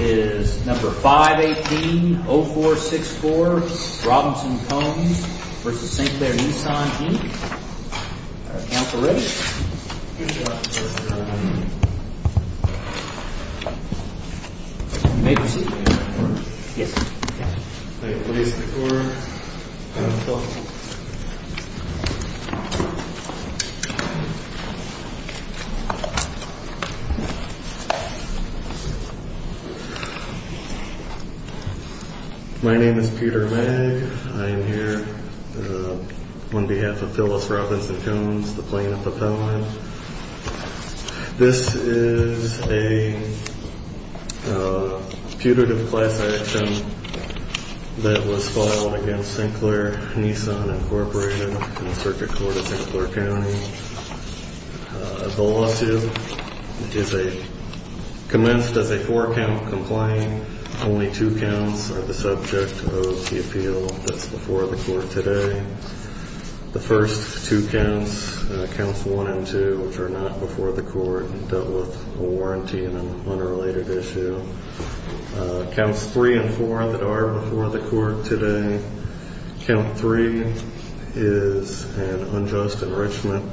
is number 518-0464 Robinson-Combs v. St. Clair Nissan E, our accounts are ready. May I proceed? Yes. My name is Peter Magg. I am here on behalf of Phyllis Robinson-Combs, the plaintiff appellant. This is a putative class action that was filed against St. Clair Nissan Incorporated in the Circuit Court of St. Clair County. The lawsuit is a, commenced as a four count complaint. Only two counts are the subject of the appeal that's before the court today. The first two counts, counts 1 and 2, which are not before the court, dealt with a warranty and an unrelated issue. Counts 3 and 4 that are before the court today, count 3 is an unjust enrichment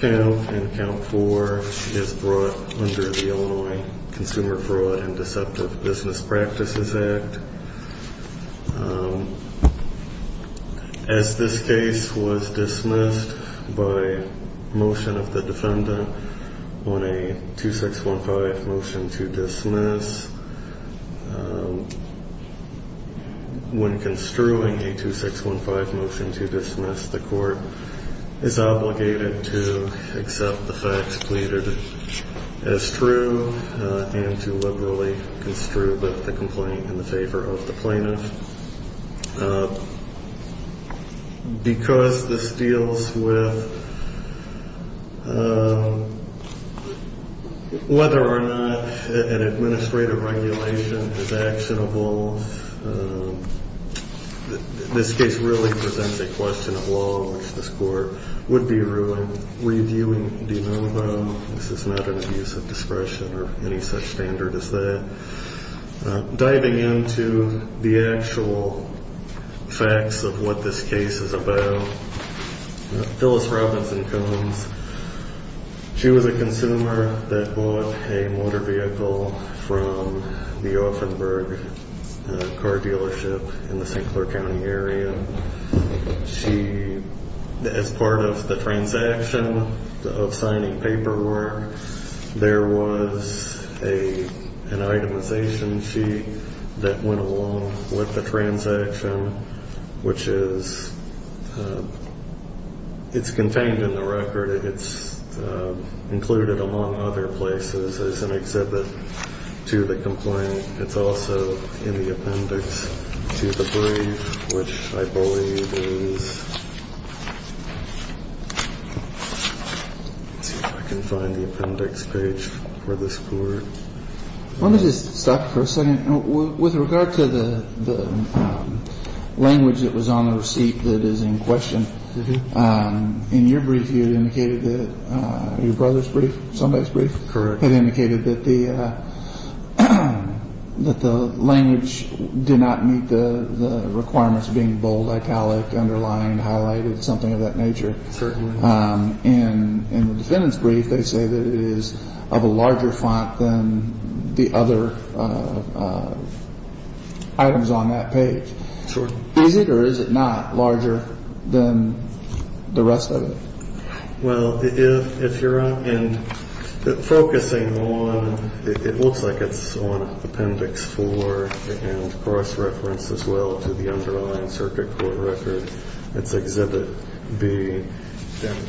count, and count 4 is brought under the Illinois Consumer Fraud and Deceptive Business Practices Act. As this case was dismissed by motion of the defendant on a 2615 motion to dismiss, when construing a 2615 motion to dismiss, the court is obligated to accept the facts pleaded as true and to liberally construe the complaint in the favor of the plaintiff. Because this deals with whether or not an administrative regulation is actionable, this case really presents a question of law which this court would be reviewing. Do you know about, this is not an abuse of discretion or any such standard as that. Diving into the actual facts of what this case is about, Phyllis Robinson Combs, she was a consumer that bought a motor vehicle from the Offenburg car dealership in the St. Clair County area. She, as part of the transaction of signing paperwork, there was an itemization sheet that went along with the transaction, which is, it's contained in the record. It's included among other places as an exhibit to the complaint. It's also in the appendix to the brief, which I believe is, let's see if I can find the appendix page for this court. Let me just stop for a second. With regard to the language that was on the receipt that is in question, in your brief you had indicated that your brother's brief, somebody's brief, had indicated that the language did not meet the requirements of being bold, italic, underlying, highlighted, something of that nature. In the defendant's brief, they say that it is of a larger font than the other items on that page. Is it or is it not larger than the rest of it? Well, if you're focusing on, it looks like it's on appendix four and cross-reference as well to the underlying circuit court record. It's exhibit B.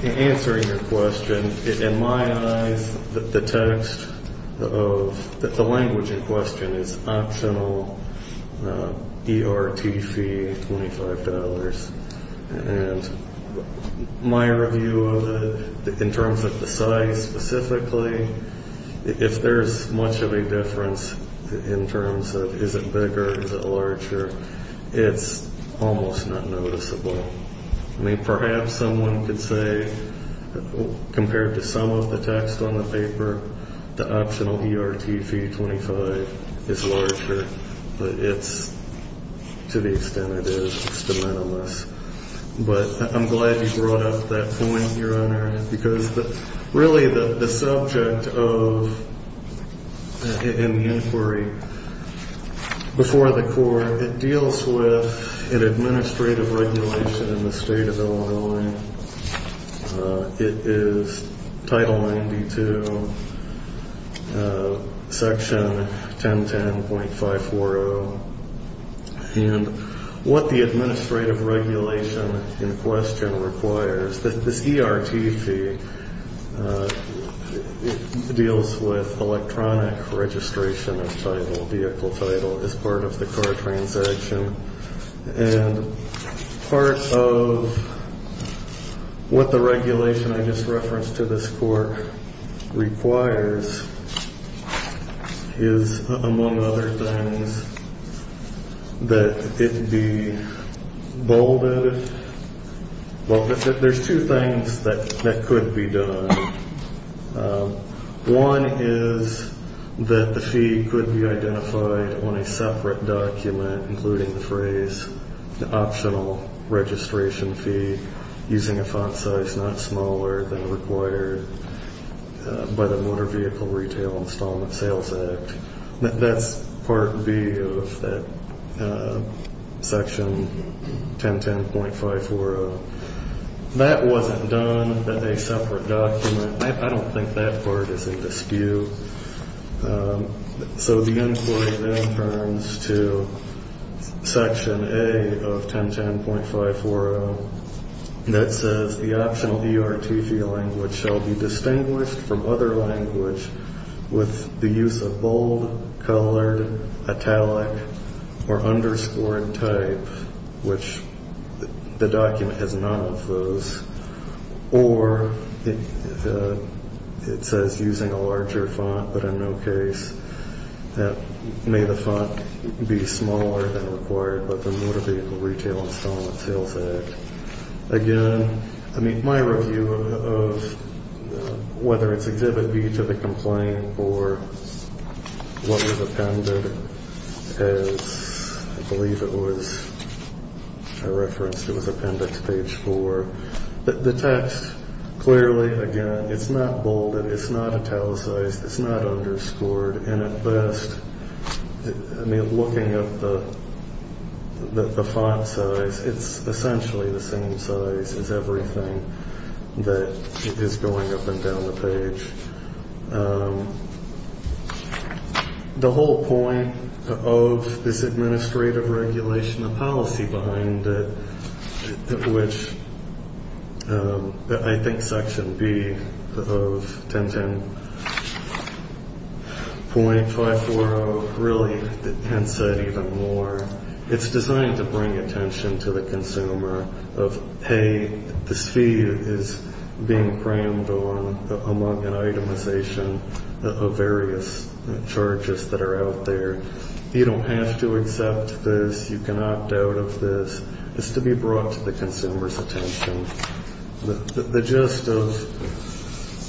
Answering your question, in my eyes, the text of the language in question is optional, ERT fee, $25. And my review of it, in terms of the size specifically, if there's much of a difference in terms of is it bigger, is it larger, it's almost not noticeable. I mean, perhaps someone could say, compared to some of the text on the paper, the optional ERT fee, $25, is larger, but it's, to the extent it is, it's de minimis. But I'm glad you brought up that point, Your Honor, because really the subject of, in the inquiry before the court, it deals with an administrative regulation in the state of Illinois. It is Title 92, Section 1010.540. And what the administrative regulation in question requires, that this ERT fee deals with electronic registration of title, vehicle title, as part of the car transaction. And part of what the regulation I just referenced to this court requires is, among other things, that it be bolded. There's two things that could be done. One is that the fee could be identified on a separate document, including the phrase, the optional registration fee using a font size not smaller than required by the Motor Vehicle Retail Installment Sales Act. That's Part B of that Section 1010.540. That wasn't done in a separate document. I don't think that part is in dispute. So the inquiry then turns to Section A of 1010.540 that says, the optional ERT fee language shall be distinguished from other language with the use of bold, colored, italic, or underscored type, which the document has none of those. Or it says using a larger font, but in no case. May the font be smaller than required by the Motor Vehicle Retail Installment Sales Act. Again, my review of whether it's Exhibit B to the complaint or what was appended, as I believe it was referenced, it was Appendix Page 4. The text, clearly, again, it's not bolded. It's not italicized. It's not underscored. I mean, looking at the font size, it's essentially the same size as everything that is going up and down the page. The whole point of this administrative regulation, the policy behind it, which I think Section B of 1010.540 really hints at even more, it's designed to bring attention to the consumer of, hey, this fee is being crammed on among an itemization of various charges that are out there. You don't have to accept this. You cannot doubt of this. It's to be brought to the consumer's attention. The gist of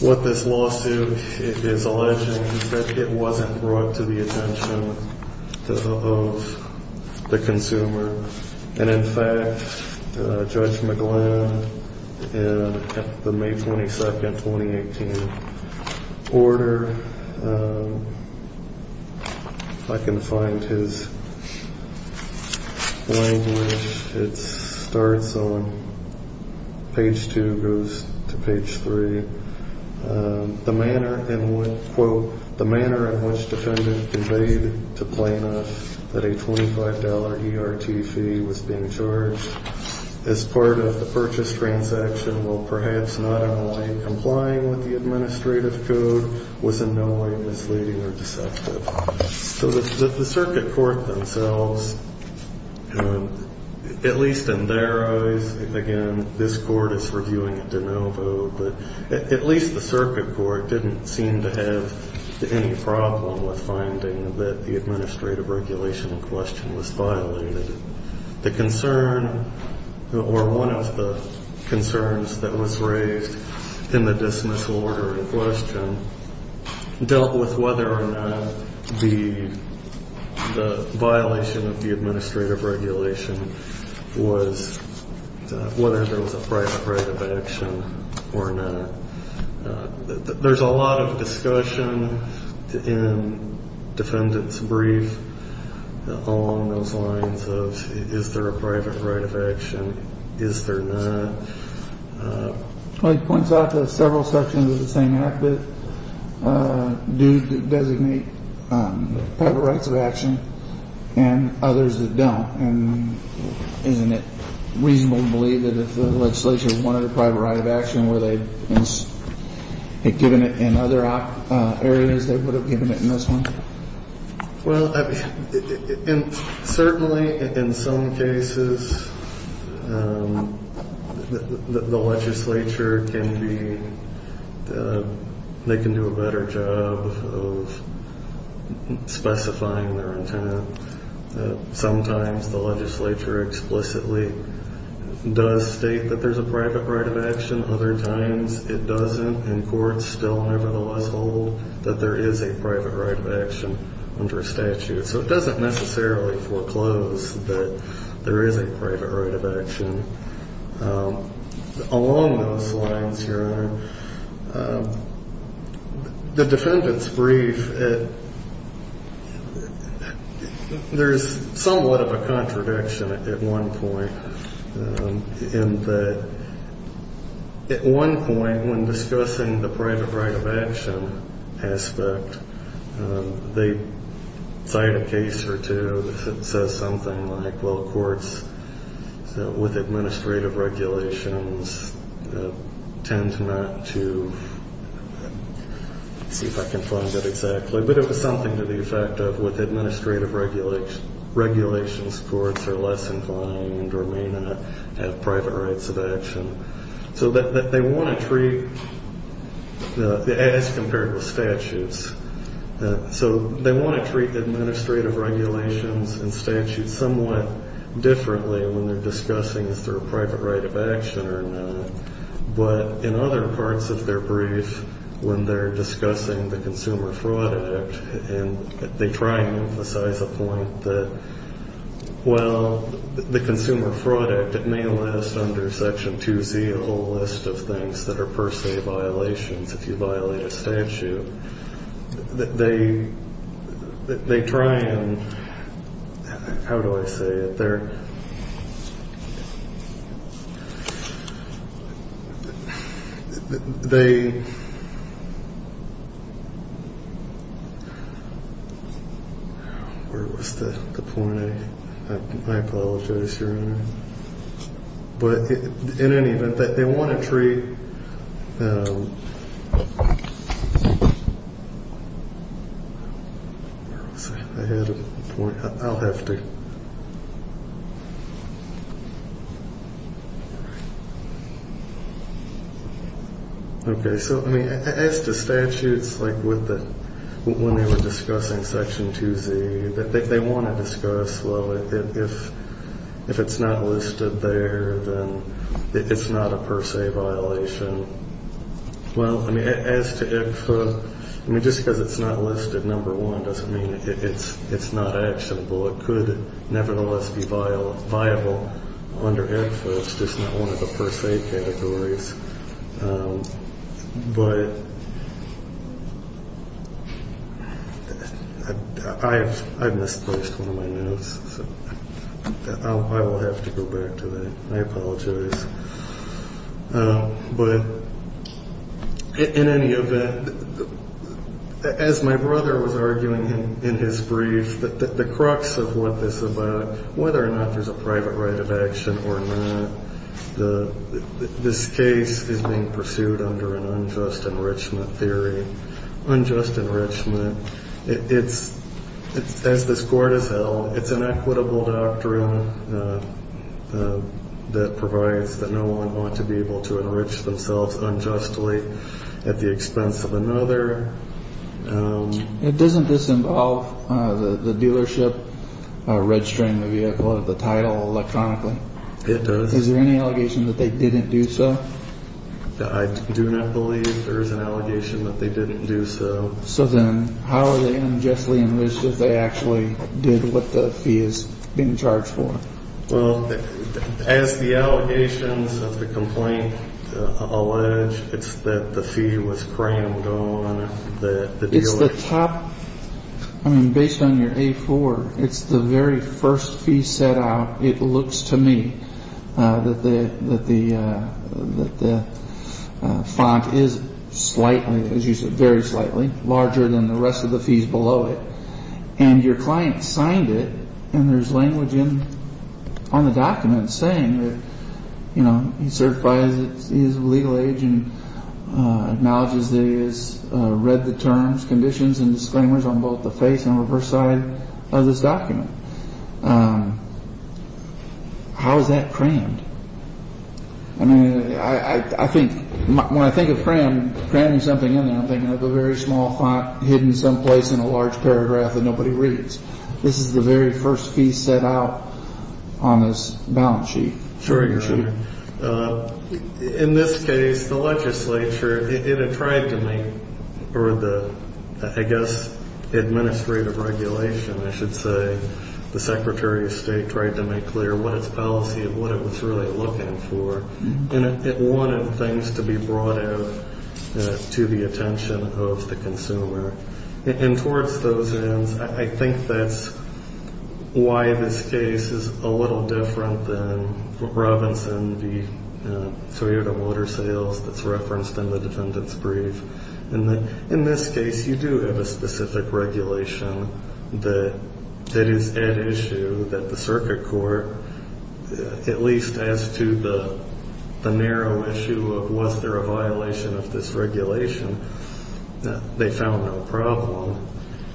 what this lawsuit is alleging is that it wasn't brought to the attention of the consumer. And, in fact, Judge McGlynn, in the May 22, 2018, order, if I can find his language, it starts on page 2, goes to page 3. The manner in which, quote, the manner in which defendant conveyed to plaintiff that a $25 ERT fee was being charged as part of the purchase transaction while perhaps not in line complying with the administrative code was in no way misleading or deceptive. So the circuit court themselves, at least in their eyes, again, this court is reviewing it de novo, but at least the circuit court didn't seem to have any problem with finding that the administrative regulation in question was violated. The concern or one of the concerns that was raised in the dismissal order in question dealt with whether or not the violation of the administrative regulation was whether there was a private right of action or not. There's a lot of discussion in defendant's brief along those lines of is there a private right of action, is there not. It points out to several sections of the same app that do designate private rights of action and others that don't. And isn't it reasonable to believe that if the legislature wanted a private right of action, were they given it in other areas they would have given it in this one? Well, certainly in some cases the legislature can do a better job of specifying their intent. Sometimes the legislature explicitly does state that there's a private right of action. Other times it doesn't and courts still nevertheless hold that there is a private right of action under statute. So it doesn't necessarily foreclose that there is a private right of action. Along those lines, Your Honor, the defendant's brief, there's somewhat of a contradiction at one point. At one point when discussing the private right of action aspect, they cite a case or two that says something like, well, courts with administrative regulations tend not to, let's see if I can find that exactly, but it was something to the effect of with administrative regulations, courts are less inclined or may not have private rights of action. So they want to treat, as compared with statutes, so they want to treat administrative regulations and statutes somewhat differently when they're discussing is there a private right of action or not. But in other parts of their brief, when they're discussing the Consumer Fraud Act, they try and emphasize a point that, well, the Consumer Fraud Act, it may last under Section 2Z, a whole list of things that are per se violations if you violate a statute. But they try and, how do I say it? Where was the point? I apologize, Your Honor. But in any event, they want to treat... Where was I? I had a point. I'll have to... Okay, so, I mean, as to statutes, like when they were discussing Section 2Z, they want to discuss, well, if it's not listed there, then it's not a per se violation. Well, I mean, as to IFA, I mean, just because it's not listed number one doesn't mean it's not actionable. It could nevertheless be viable under IFA. It's just not one of the per se categories. But I've misplaced one of my notes, so I will have to go back to that. I apologize. But in any event, as my brother was arguing in his brief, the crux of what this is about, whether or not there's a private right of action or not, this case is being pursued under an unjust enrichment theory. Unjust enrichment, as this Court has held, it's an equitable doctrine that provides that no one want to be able to enrich themselves unjustly at the expense of another. It doesn't disinvolve the dealership registering the vehicle under the title electronically. It does. Is there any allegation that they didn't do so? I do not believe there is an allegation that they didn't do so. So then how are they unjustly enriched if they actually did what the fee is being charged for? Well, as the allegations of the complaint allege, it's that the fee was crammed on the dealership. It's the top. I mean, based on your A4, it's the very first fee set out. It looks to me that the font is slightly, as you said, very slightly larger than the rest of the fees below it. And your client signed it and there's language on the document saying that, you know, he certifies his legal age and acknowledges that he has read the terms, conditions and disclaimers on both the face and reverse side of this document. How is that crammed? I mean, I think when I think of cram, cramming something in there, I'm thinking of a very small font hidden someplace in a large paragraph that nobody reads. This is the very first fee set out on this balance sheet. Sure, you're right. In this case, the legislature, it had tried to make, or the, I guess, administrative regulation, I should say, the Secretary of State tried to make clear what its policy and what it was really looking for. And it wanted things to be brought out to the attention of the consumer. And towards those ends, I think that's why this case is a little different than Robinson v. Toyota Water Sales that's referenced in the defendant's brief. In this case, you do have a specific regulation that is at issue that the circuit court, at least as to the narrow issue of was there a violation of this regulation, they found no problem.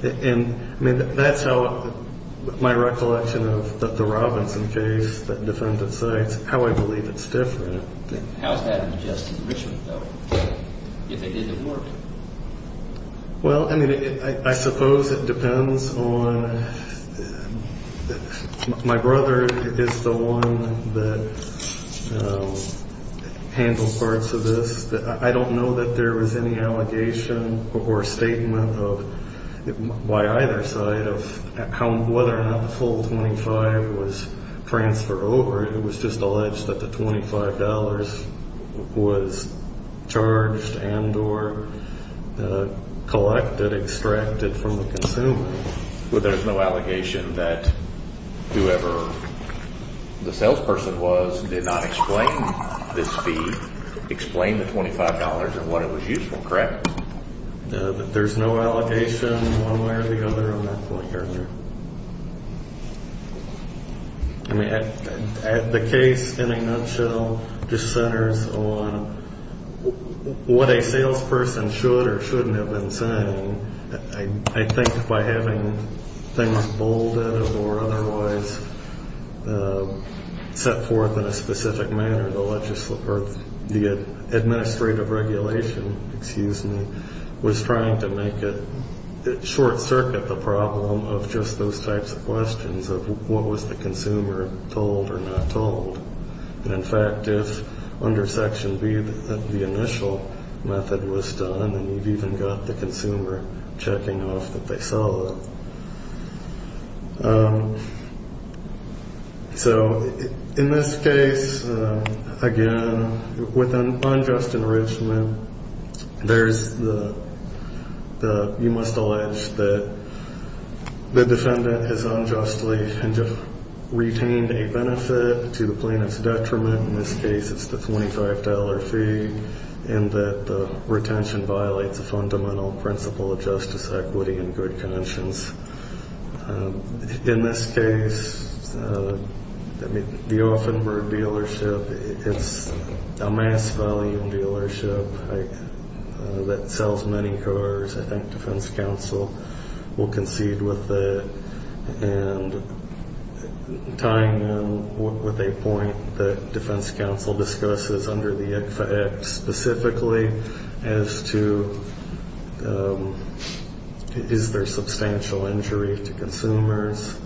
And, I mean, that's how my recollection of the Robinson case, the defendant's side, how I believe it's different. How's that adjusted in Richmond, though? If it didn't work? Well, I mean, I suppose it depends on, my brother is the one that handled parts of this. I don't know that there was any allegation or statement by either side of whether or not the full 25 was transferred over. It was just alleged that the $25 was charged and or collected, extracted from the consumer. But there's no allegation that whoever the salesperson was did not explain this fee, explain the $25 and what it was used for, correct? There's no allegation one way or the other on that point, Your Honor. I mean, the case in a nutshell just centers on what a salesperson should or shouldn't have been saying. I think by having things bolded or otherwise set forth in a specific manner, the legislative or the administrative regulation, excuse me, was trying to make it short-circuit the problem of just those types of questions of what was the consumer told or not told. And, in fact, if under Section B the initial method was done, then you've even got the consumer checking off that they saw that. So in this case, again, with unjust enrichment, there's the you must allege that the defendant has unjustly retained a benefit to the plaintiff's detriment. In this case, it's the $25 fee in that the retention violates a fundamental principle of justice, equity, and good conscience. In this case, the Offenburg dealership is a mass value dealership that sells many cars. I think defense counsel will concede with it. And tying in with a point that defense counsel discusses under the ICHFA Act specifically as to is there substantial injury to consumers,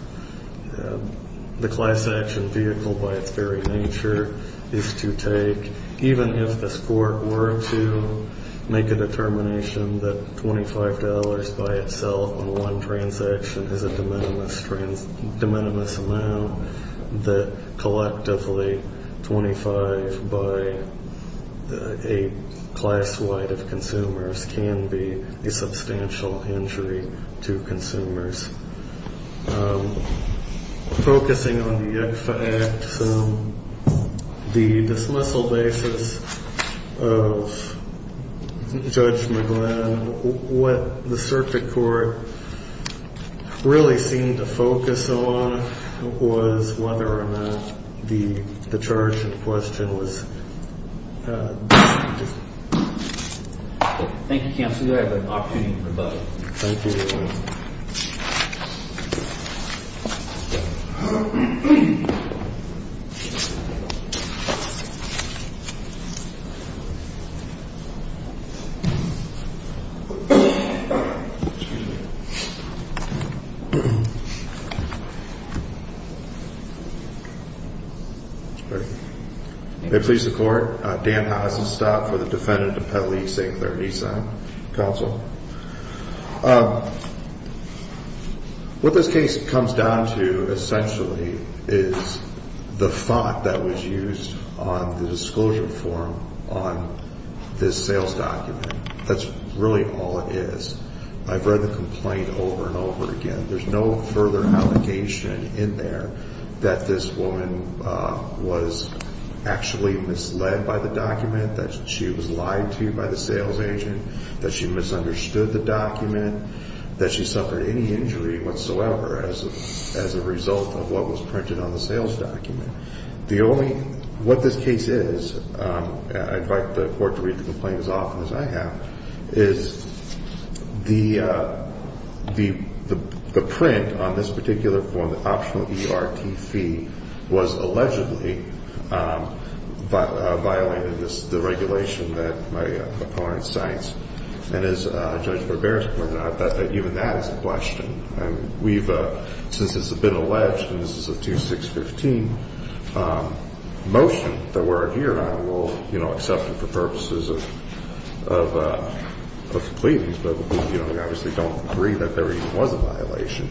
the class action vehicle by its very nature is to take, even if the court were to make a determination that $25 by itself on one transaction is a de minimis amount, that collectively $25 by a class wide of consumers can be a substantial injury to consumers. Focusing on the ICHFA Act, the dismissal basis of Judge McGlynn, what the circuit court really seemed to focus on was whether or not the charge in question was dismissed. Thank you, counsel. Do I have an opportunity to rebut? Thank you. Thank you. May it please the court. Dan Haas is stopped for the defendant to peddle e-cig, their e-cig, counsel. What this case comes down to essentially is the thought that was used on the disclosure form on this sales document. That's really all it is. I've read the complaint over and over again. There's no further allegation in there that this woman was actually misled by the document, that she was lied to by the sales agent, that she misunderstood the document, that she suffered any injury whatsoever as a result of what was printed on the sales document. What this case is, I invite the court to read the complaint as often as I have, is the print on this particular form, the optional ERT fee, was allegedly violated. This is the regulation that my opponent cites. And as Judge Barbera pointed out, even that is a question. Since this has been alleged and this is a 2615 motion that we're here on, we'll accept it for purposes of pleadings, but we obviously don't agree that there even was a violation.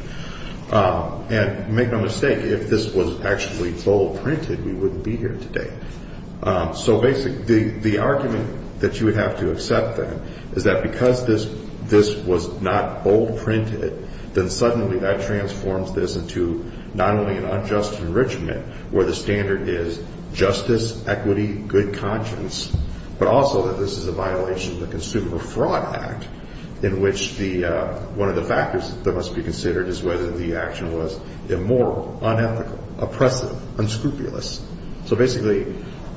And make no mistake, if this was actually bold printed, we wouldn't be here today. So basically the argument that you would have to accept then is that because this was not bold printed, then suddenly that transforms this into not only an unjust enrichment where the standard is justice, equity, good conscience, but also that this is a violation of the Consumer Fraud Act, in which one of the factors that must be considered is whether the action was immoral, unethical, oppressive, unscrupulous. So basically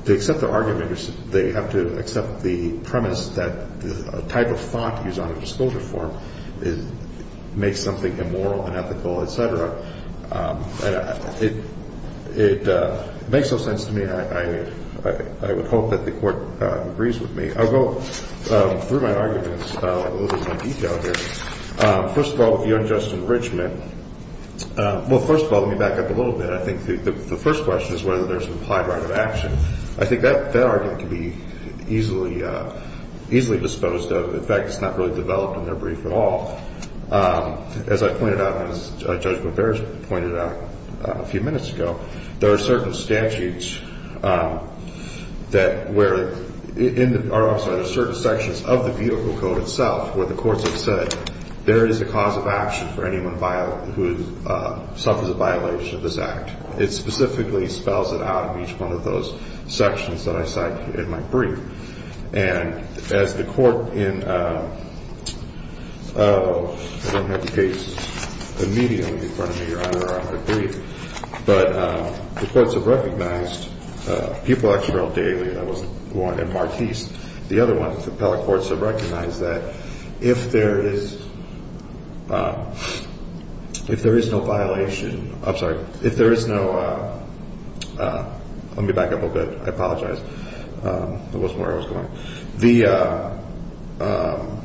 to accept the argument, they have to accept the premise that a type of font used on a disclosure form makes something immoral, unethical, et cetera. It makes no sense to me. I would hope that the Court agrees with me. I'll go through my arguments in a little more detail here. First of all, with the unjust enrichment, well, first of all, let me back up a little bit. I think the first question is whether there's an applied right of action. I think that argument can be easily disposed of. In fact, it's not really developed in their brief at all. As I pointed out, and as Judge Boberge pointed out a few minutes ago, there are certain statutes that where in our office there are certain sections of the vehicle code itself where the courts have said there is a cause of action for anyone who suffers a violation of this act. It specifically spells it out in each one of those sections that I cite in my brief. And as the Court in – I don't have the case immediately in front of me. Your Honor, I don't have the brief. But the courts have recognized – Pupil-Experts Daily, that was one, and Martiz, the other one. The appellate courts have recognized that if there is no violation – I'm sorry. If there is no – let me back up a bit. I apologize. I wasn't aware I was going.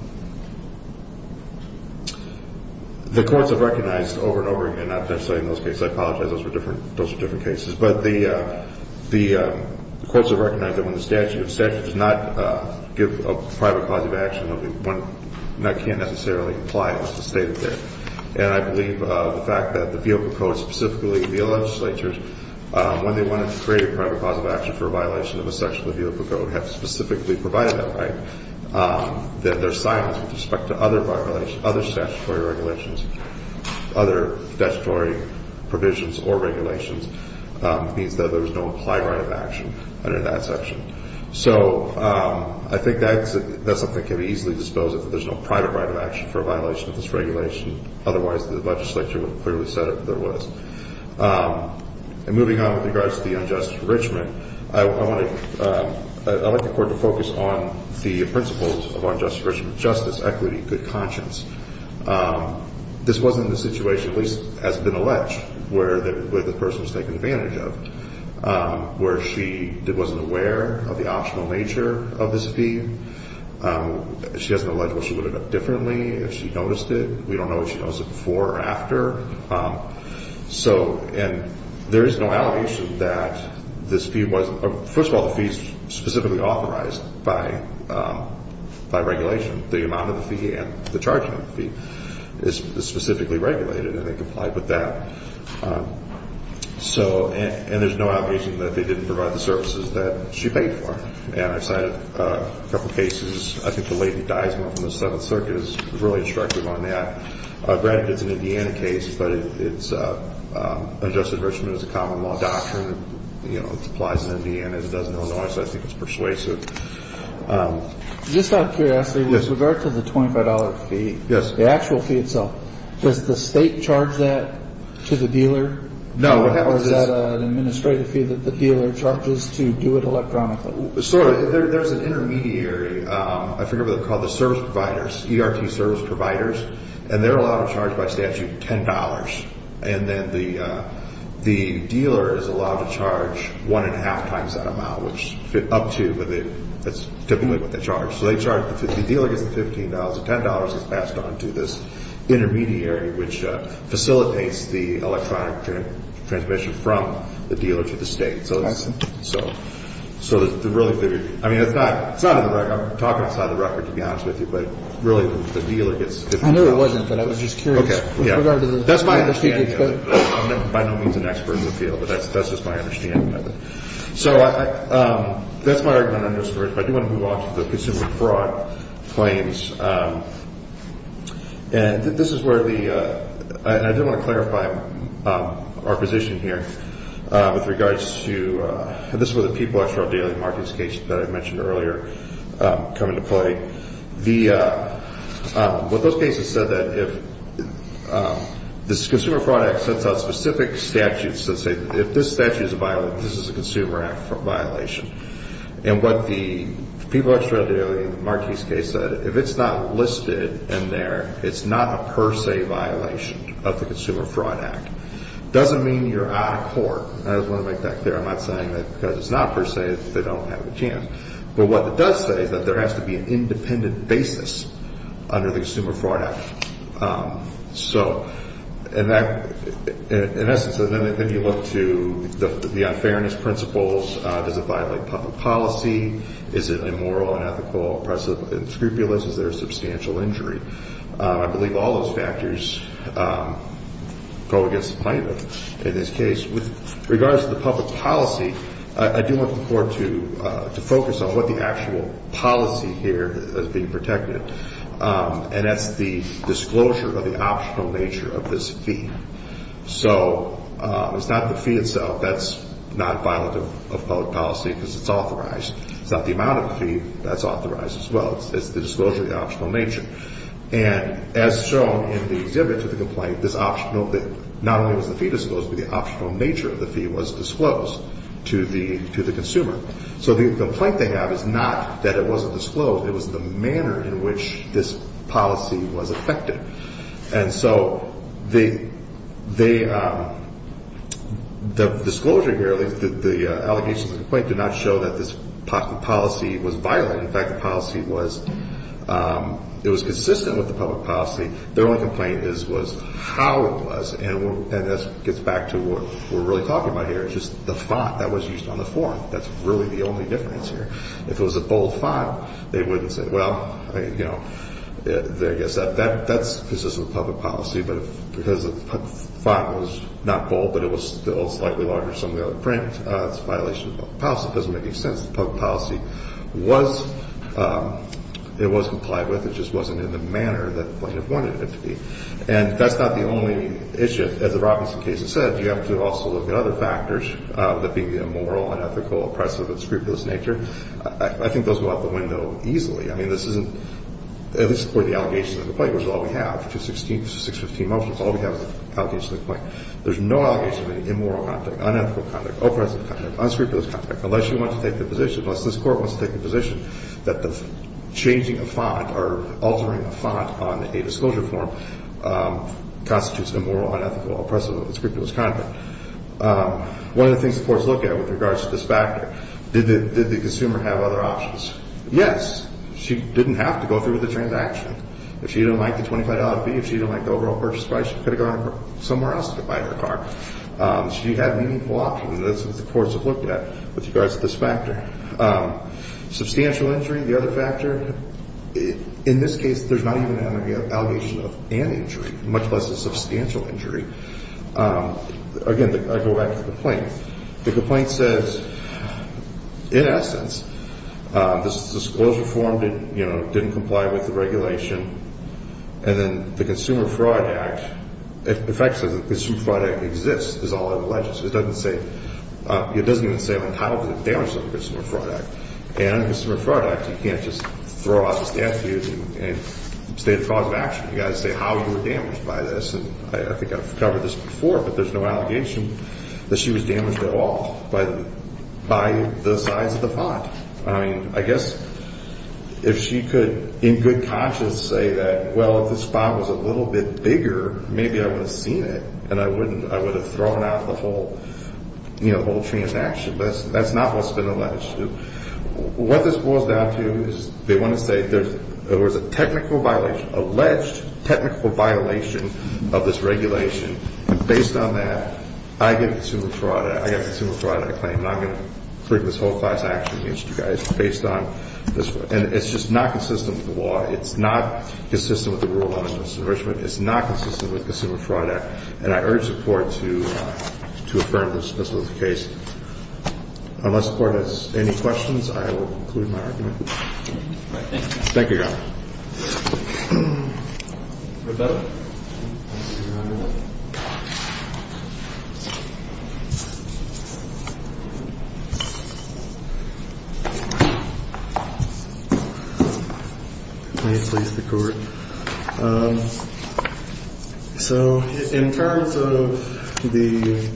The courts have recognized over and over again – not necessarily in those cases. I apologize. Those are different cases. But the courts have recognized that when the statute does not give a private cause of action, that can't necessarily apply as stated there. And I believe the fact that the vehicle code specifically, the legislatures, when they wanted to create a private cause of action for a violation of a section of the vehicle code, have specifically provided that right, that their silence with respect to other violations, other statutory regulations, other statutory provisions or regulations, means that there is no applied right of action under that section. So I think that's something that can be easily disposed of, that there's no private right of action for a violation of this regulation. Otherwise, the legislature would have clearly said that there was. And moving on with regards to the unjust enrichment, I want the court to focus on the principles of unjust enrichment, justice, equity, good conscience. This wasn't the situation, at least it hasn't been alleged, where the person was taken advantage of, where she wasn't aware of the optional nature of this fee. She hasn't alleged what she would have done differently if she noticed it. We don't know if she noticed it before or after. And there is no allegation that this fee wasn't, first of all, the fee is specifically authorized by regulation. The amount of the fee and the charging of the fee is specifically regulated, and they complied with that. And there's no allegation that they didn't provide the services that she paid for. And I've cited a couple of cases. I think the lady who dies and went from the Seventh Circuit is really instructive on that. Granted, it's an Indiana case, but unjust enrichment is a common law doctrine. You know, it applies in Indiana. It doesn't go nowhere, so I think it's persuasive. Just out of curiosity, with regard to the $25 fee, the actual fee itself, does the state charge that to the dealer? No. Or is that an administrative fee that the dealer charges to do it electronically? Sort of. There's an intermediary, I forget what they're called, the service providers, ERT service providers, and they're allowed to charge by statute $10. And then the dealer is allowed to charge one and a half times that amount, which up to, but that's typically what they charge. So they charge, the dealer gets the $15, and $10 is passed on to this intermediary, which facilitates the electronic transmission from the dealer to the state. Okay. So it's really figured. I mean, it's not in the record. I'm talking outside the record, to be honest with you, but really the dealer gets $15. I know it wasn't, but I was just curious. Okay, yeah. That's my understanding of it. I'm by no means an expert in the field, but that's just my understanding of it. So that's my argument on this first, but I do want to move on to the consumer fraud claims. And this is where the, and I do want to clarify our position here with regards to, and this is where the People Actual Daily Markets case that I mentioned earlier come into play. The, what those cases said that if this Consumer Fraud Act sets out specific statutes that say if this statute is a violation, this is a Consumer Act violation, and what the People Actual Daily Markets case said, if it's not listed in there, it's not a per se violation of the Consumer Fraud Act. It doesn't mean you're out of court. I just want to make that clear. I'm not saying that because it's not per se that they don't have a chance. But what it does say is that there has to be an independent basis under the Consumer Fraud Act. So in that, in essence, then you look to the unfairness principles. Does it violate public policy? Is it immoral, unethical, oppressive, and scrupulous? Is there a substantial injury? I believe all those factors go against the plan in this case. With regards to the public policy, I do want the Court to focus on what the actual policy here is being protected. And that's the disclosure of the optional nature of this fee. So it's not the fee itself that's not violent of public policy because it's authorized. It's not the amount of the fee that's authorized as well. It's the disclosure of the optional nature. And as shown in the exhibit to the complaint, this optional, not only was the fee disclosed, but the optional nature of the fee was disclosed to the consumer. So the complaint they have is not that it wasn't disclosed. It was the manner in which this policy was effected. And so the disclosure here, at least the allegations of the complaint, did not show that this policy was violent. In fact, the policy was consistent with the public policy. Their only complaint was how it was. And this gets back to what we're really talking about here. It's just the font that was used on the form. That's really the only difference here. If it was a bold font, they wouldn't say, well, I guess that's consistent with public policy. But because the font was not bold, but it was still slightly larger than some of the other print, it's a violation of public policy. It doesn't make any sense that public policy was complied with. It just wasn't in the manner that the plaintiff wanted it to be. And that's not the only issue. As the Robinson case has said, you have to also look at other factors, that being the immoral, unethical, oppressive, and scrupulous nature. I think those go out the window easily. I mean, this isn't, at least for the allegations of the complaint, which is all we have, which is 16 motions, all we have is the allegations of the complaint. There's no allegations of any immoral conduct, unethical conduct, oppressive conduct, unscrupulous conduct, unless you want to take the position, unless this Court wants to take the position that the changing of font or altering of font on a disclosure form constitutes immoral, unethical, oppressive, and scrupulous conduct. One of the things the courts look at with regards to this factor, did the consumer have other options? Yes. She didn't have to go through with the transaction. If she didn't like the $25 fee, if she didn't like the overall purchase price, she could have gone somewhere else to buy her car. She had meaningful options. That's what the courts have looked at with regards to this factor. Substantial injury, the other factor. In this case, there's not even an allegation of an injury, much less a substantial injury. Again, I go back to the complaint. The complaint says, in essence, this disclosure form didn't comply with the regulation, and then the Consumer Fraud Act, in effect, says the Consumer Fraud Act exists, is all it alleges. It doesn't even say I'm entitled to the damage of the Consumer Fraud Act. And in the Consumer Fraud Act, you can't just throw out the statute and state a cause of action. You've got to say how you were damaged by this. And I think I've covered this before, but there's no allegation that she was damaged at all, but by the size of the pot. I mean, I guess if she could in good conscience say that, well, if this pot was a little bit bigger, maybe I would have seen it, and I would have thrown out the whole transaction. But that's not what's been alleged. What this boils down to is they want to say there was a technical violation, alleged technical violation of this regulation, and based on that, I get the Consumer Fraud Act. I get the Consumer Fraud Act claim, and I'm going to bring this whole class action against you guys based on this. And it's just not consistent with the law. It's not consistent with the rule of law in Mr. Richmond. It's not consistent with the Consumer Fraud Act. And I urge support to affirm this was the case. Unless the Court has any questions, I will conclude my argument. Rebecca? May it please the Court. So in terms of the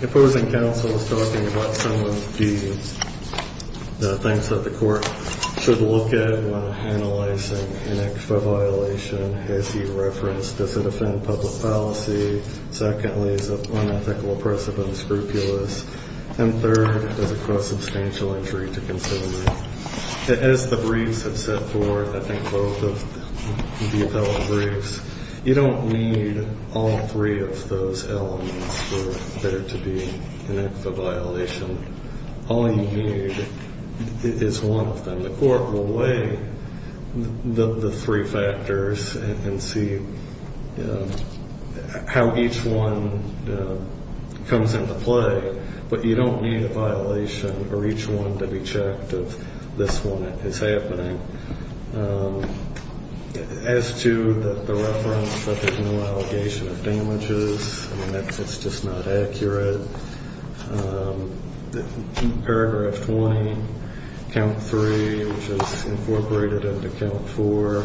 opposing counsel was talking about some of the things that the Court should look at when analyzing an actual violation. Has he referenced does it offend public policy? Secondly, is it unethical, oppressive, and scrupulous? And third, does it cause substantial injury to consumers? As the briefs have set forth, I think both of the appellate briefs, you don't need all three of those elements for there to be an actual violation. All you need is one of them. The Court will weigh the three factors and see how each one comes into play, but you don't need a violation for each one to be checked if this one is happening. As to the reference that there's no allegation of damages, that's just not accurate. Paragraph 20, Count 3, which is incorporated into Count 4,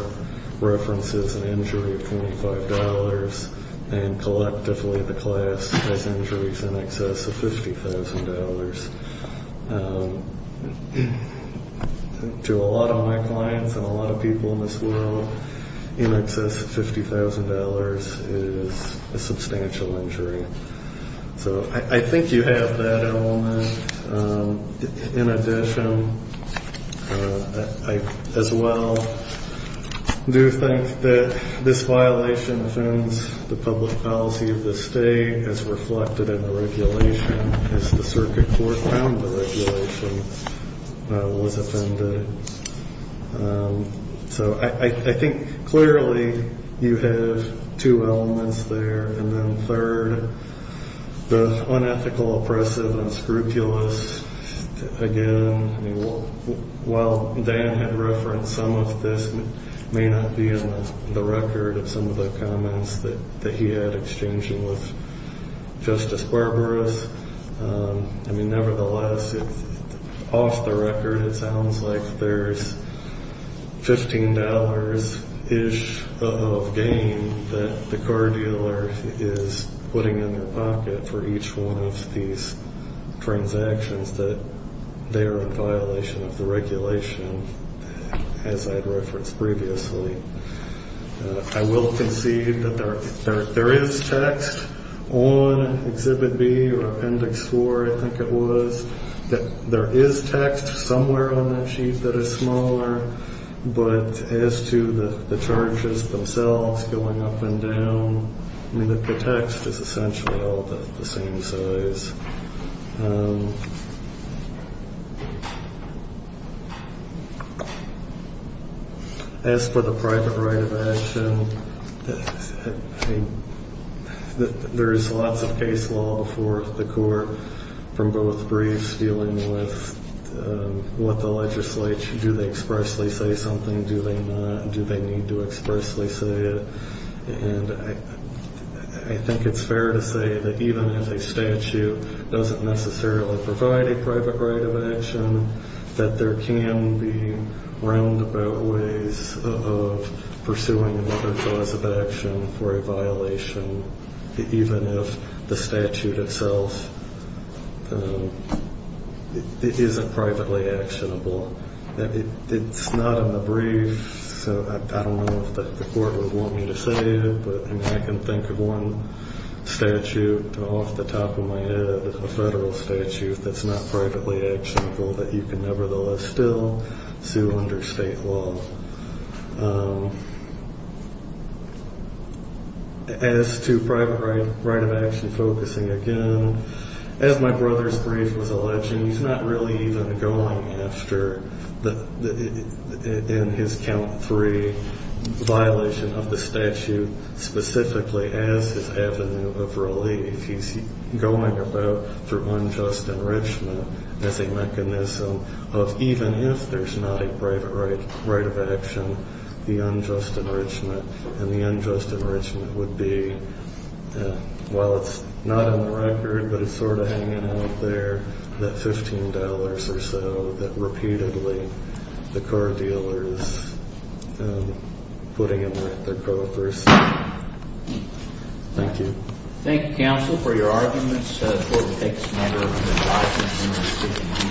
references an injury of $25. And collectively the class has injuries in excess of $50,000. To a lot of my clients and a lot of people in this world, in excess of $50,000 is a substantial injury. So I think you have that element. In addition, I as well do think that this violation offends the public policy of the state as reflected in the regulation as the Circuit Court found the regulation was offended. So I think clearly you have two elements there. And then third, the unethical, oppressive, unscrupulous. Again, while Dan had referenced some of this, it may not be in the record of some of the comments that he had exchanging with Justice Barbaras. I mean, nevertheless, off the record, it sounds like there's $15-ish of gain that the car dealer is putting in their pocket for each one of these transactions that they are in violation of the regulation, as I had referenced previously. I will concede that there is text on Exhibit B or Appendix 4, I think it was, that there is text somewhere on that sheet that is smaller. But as to the charges themselves going up and down, I mean, the text is essentially all the same size. As for the private right of action, there is lots of case law before the court from both briefs dealing with what the legislature, do they expressly say something, do they not, do they need to expressly say it. And I think it's fair to say that even as a statute, it doesn't necessarily provide a private right of action, that there can be roundabout ways of pursuing another cause of action for a violation, even if the statute itself isn't privately actionable. It's not in the brief, so I don't know if the court would want me to say it, but I can think of one statute off the top of my head, a federal statute that's not privately actionable that you can nevertheless still sue under state law. As to private right of action focusing, again, as my brother's brief was alleging, he's not really even going after, in his count three, violation of the statute specifically as his avenue of relief. He's going about through unjust enrichment as a mechanism of even if there's not a private right of action, the unjust enrichment, and the unjust enrichment would be, while it's not on the record, but it's sort of hanging out there, that $15 or so that repeatedly the car dealer is putting in their co-offers. Thank you. Thank you, counsel, for your arguments. The court will take this matter under advisement.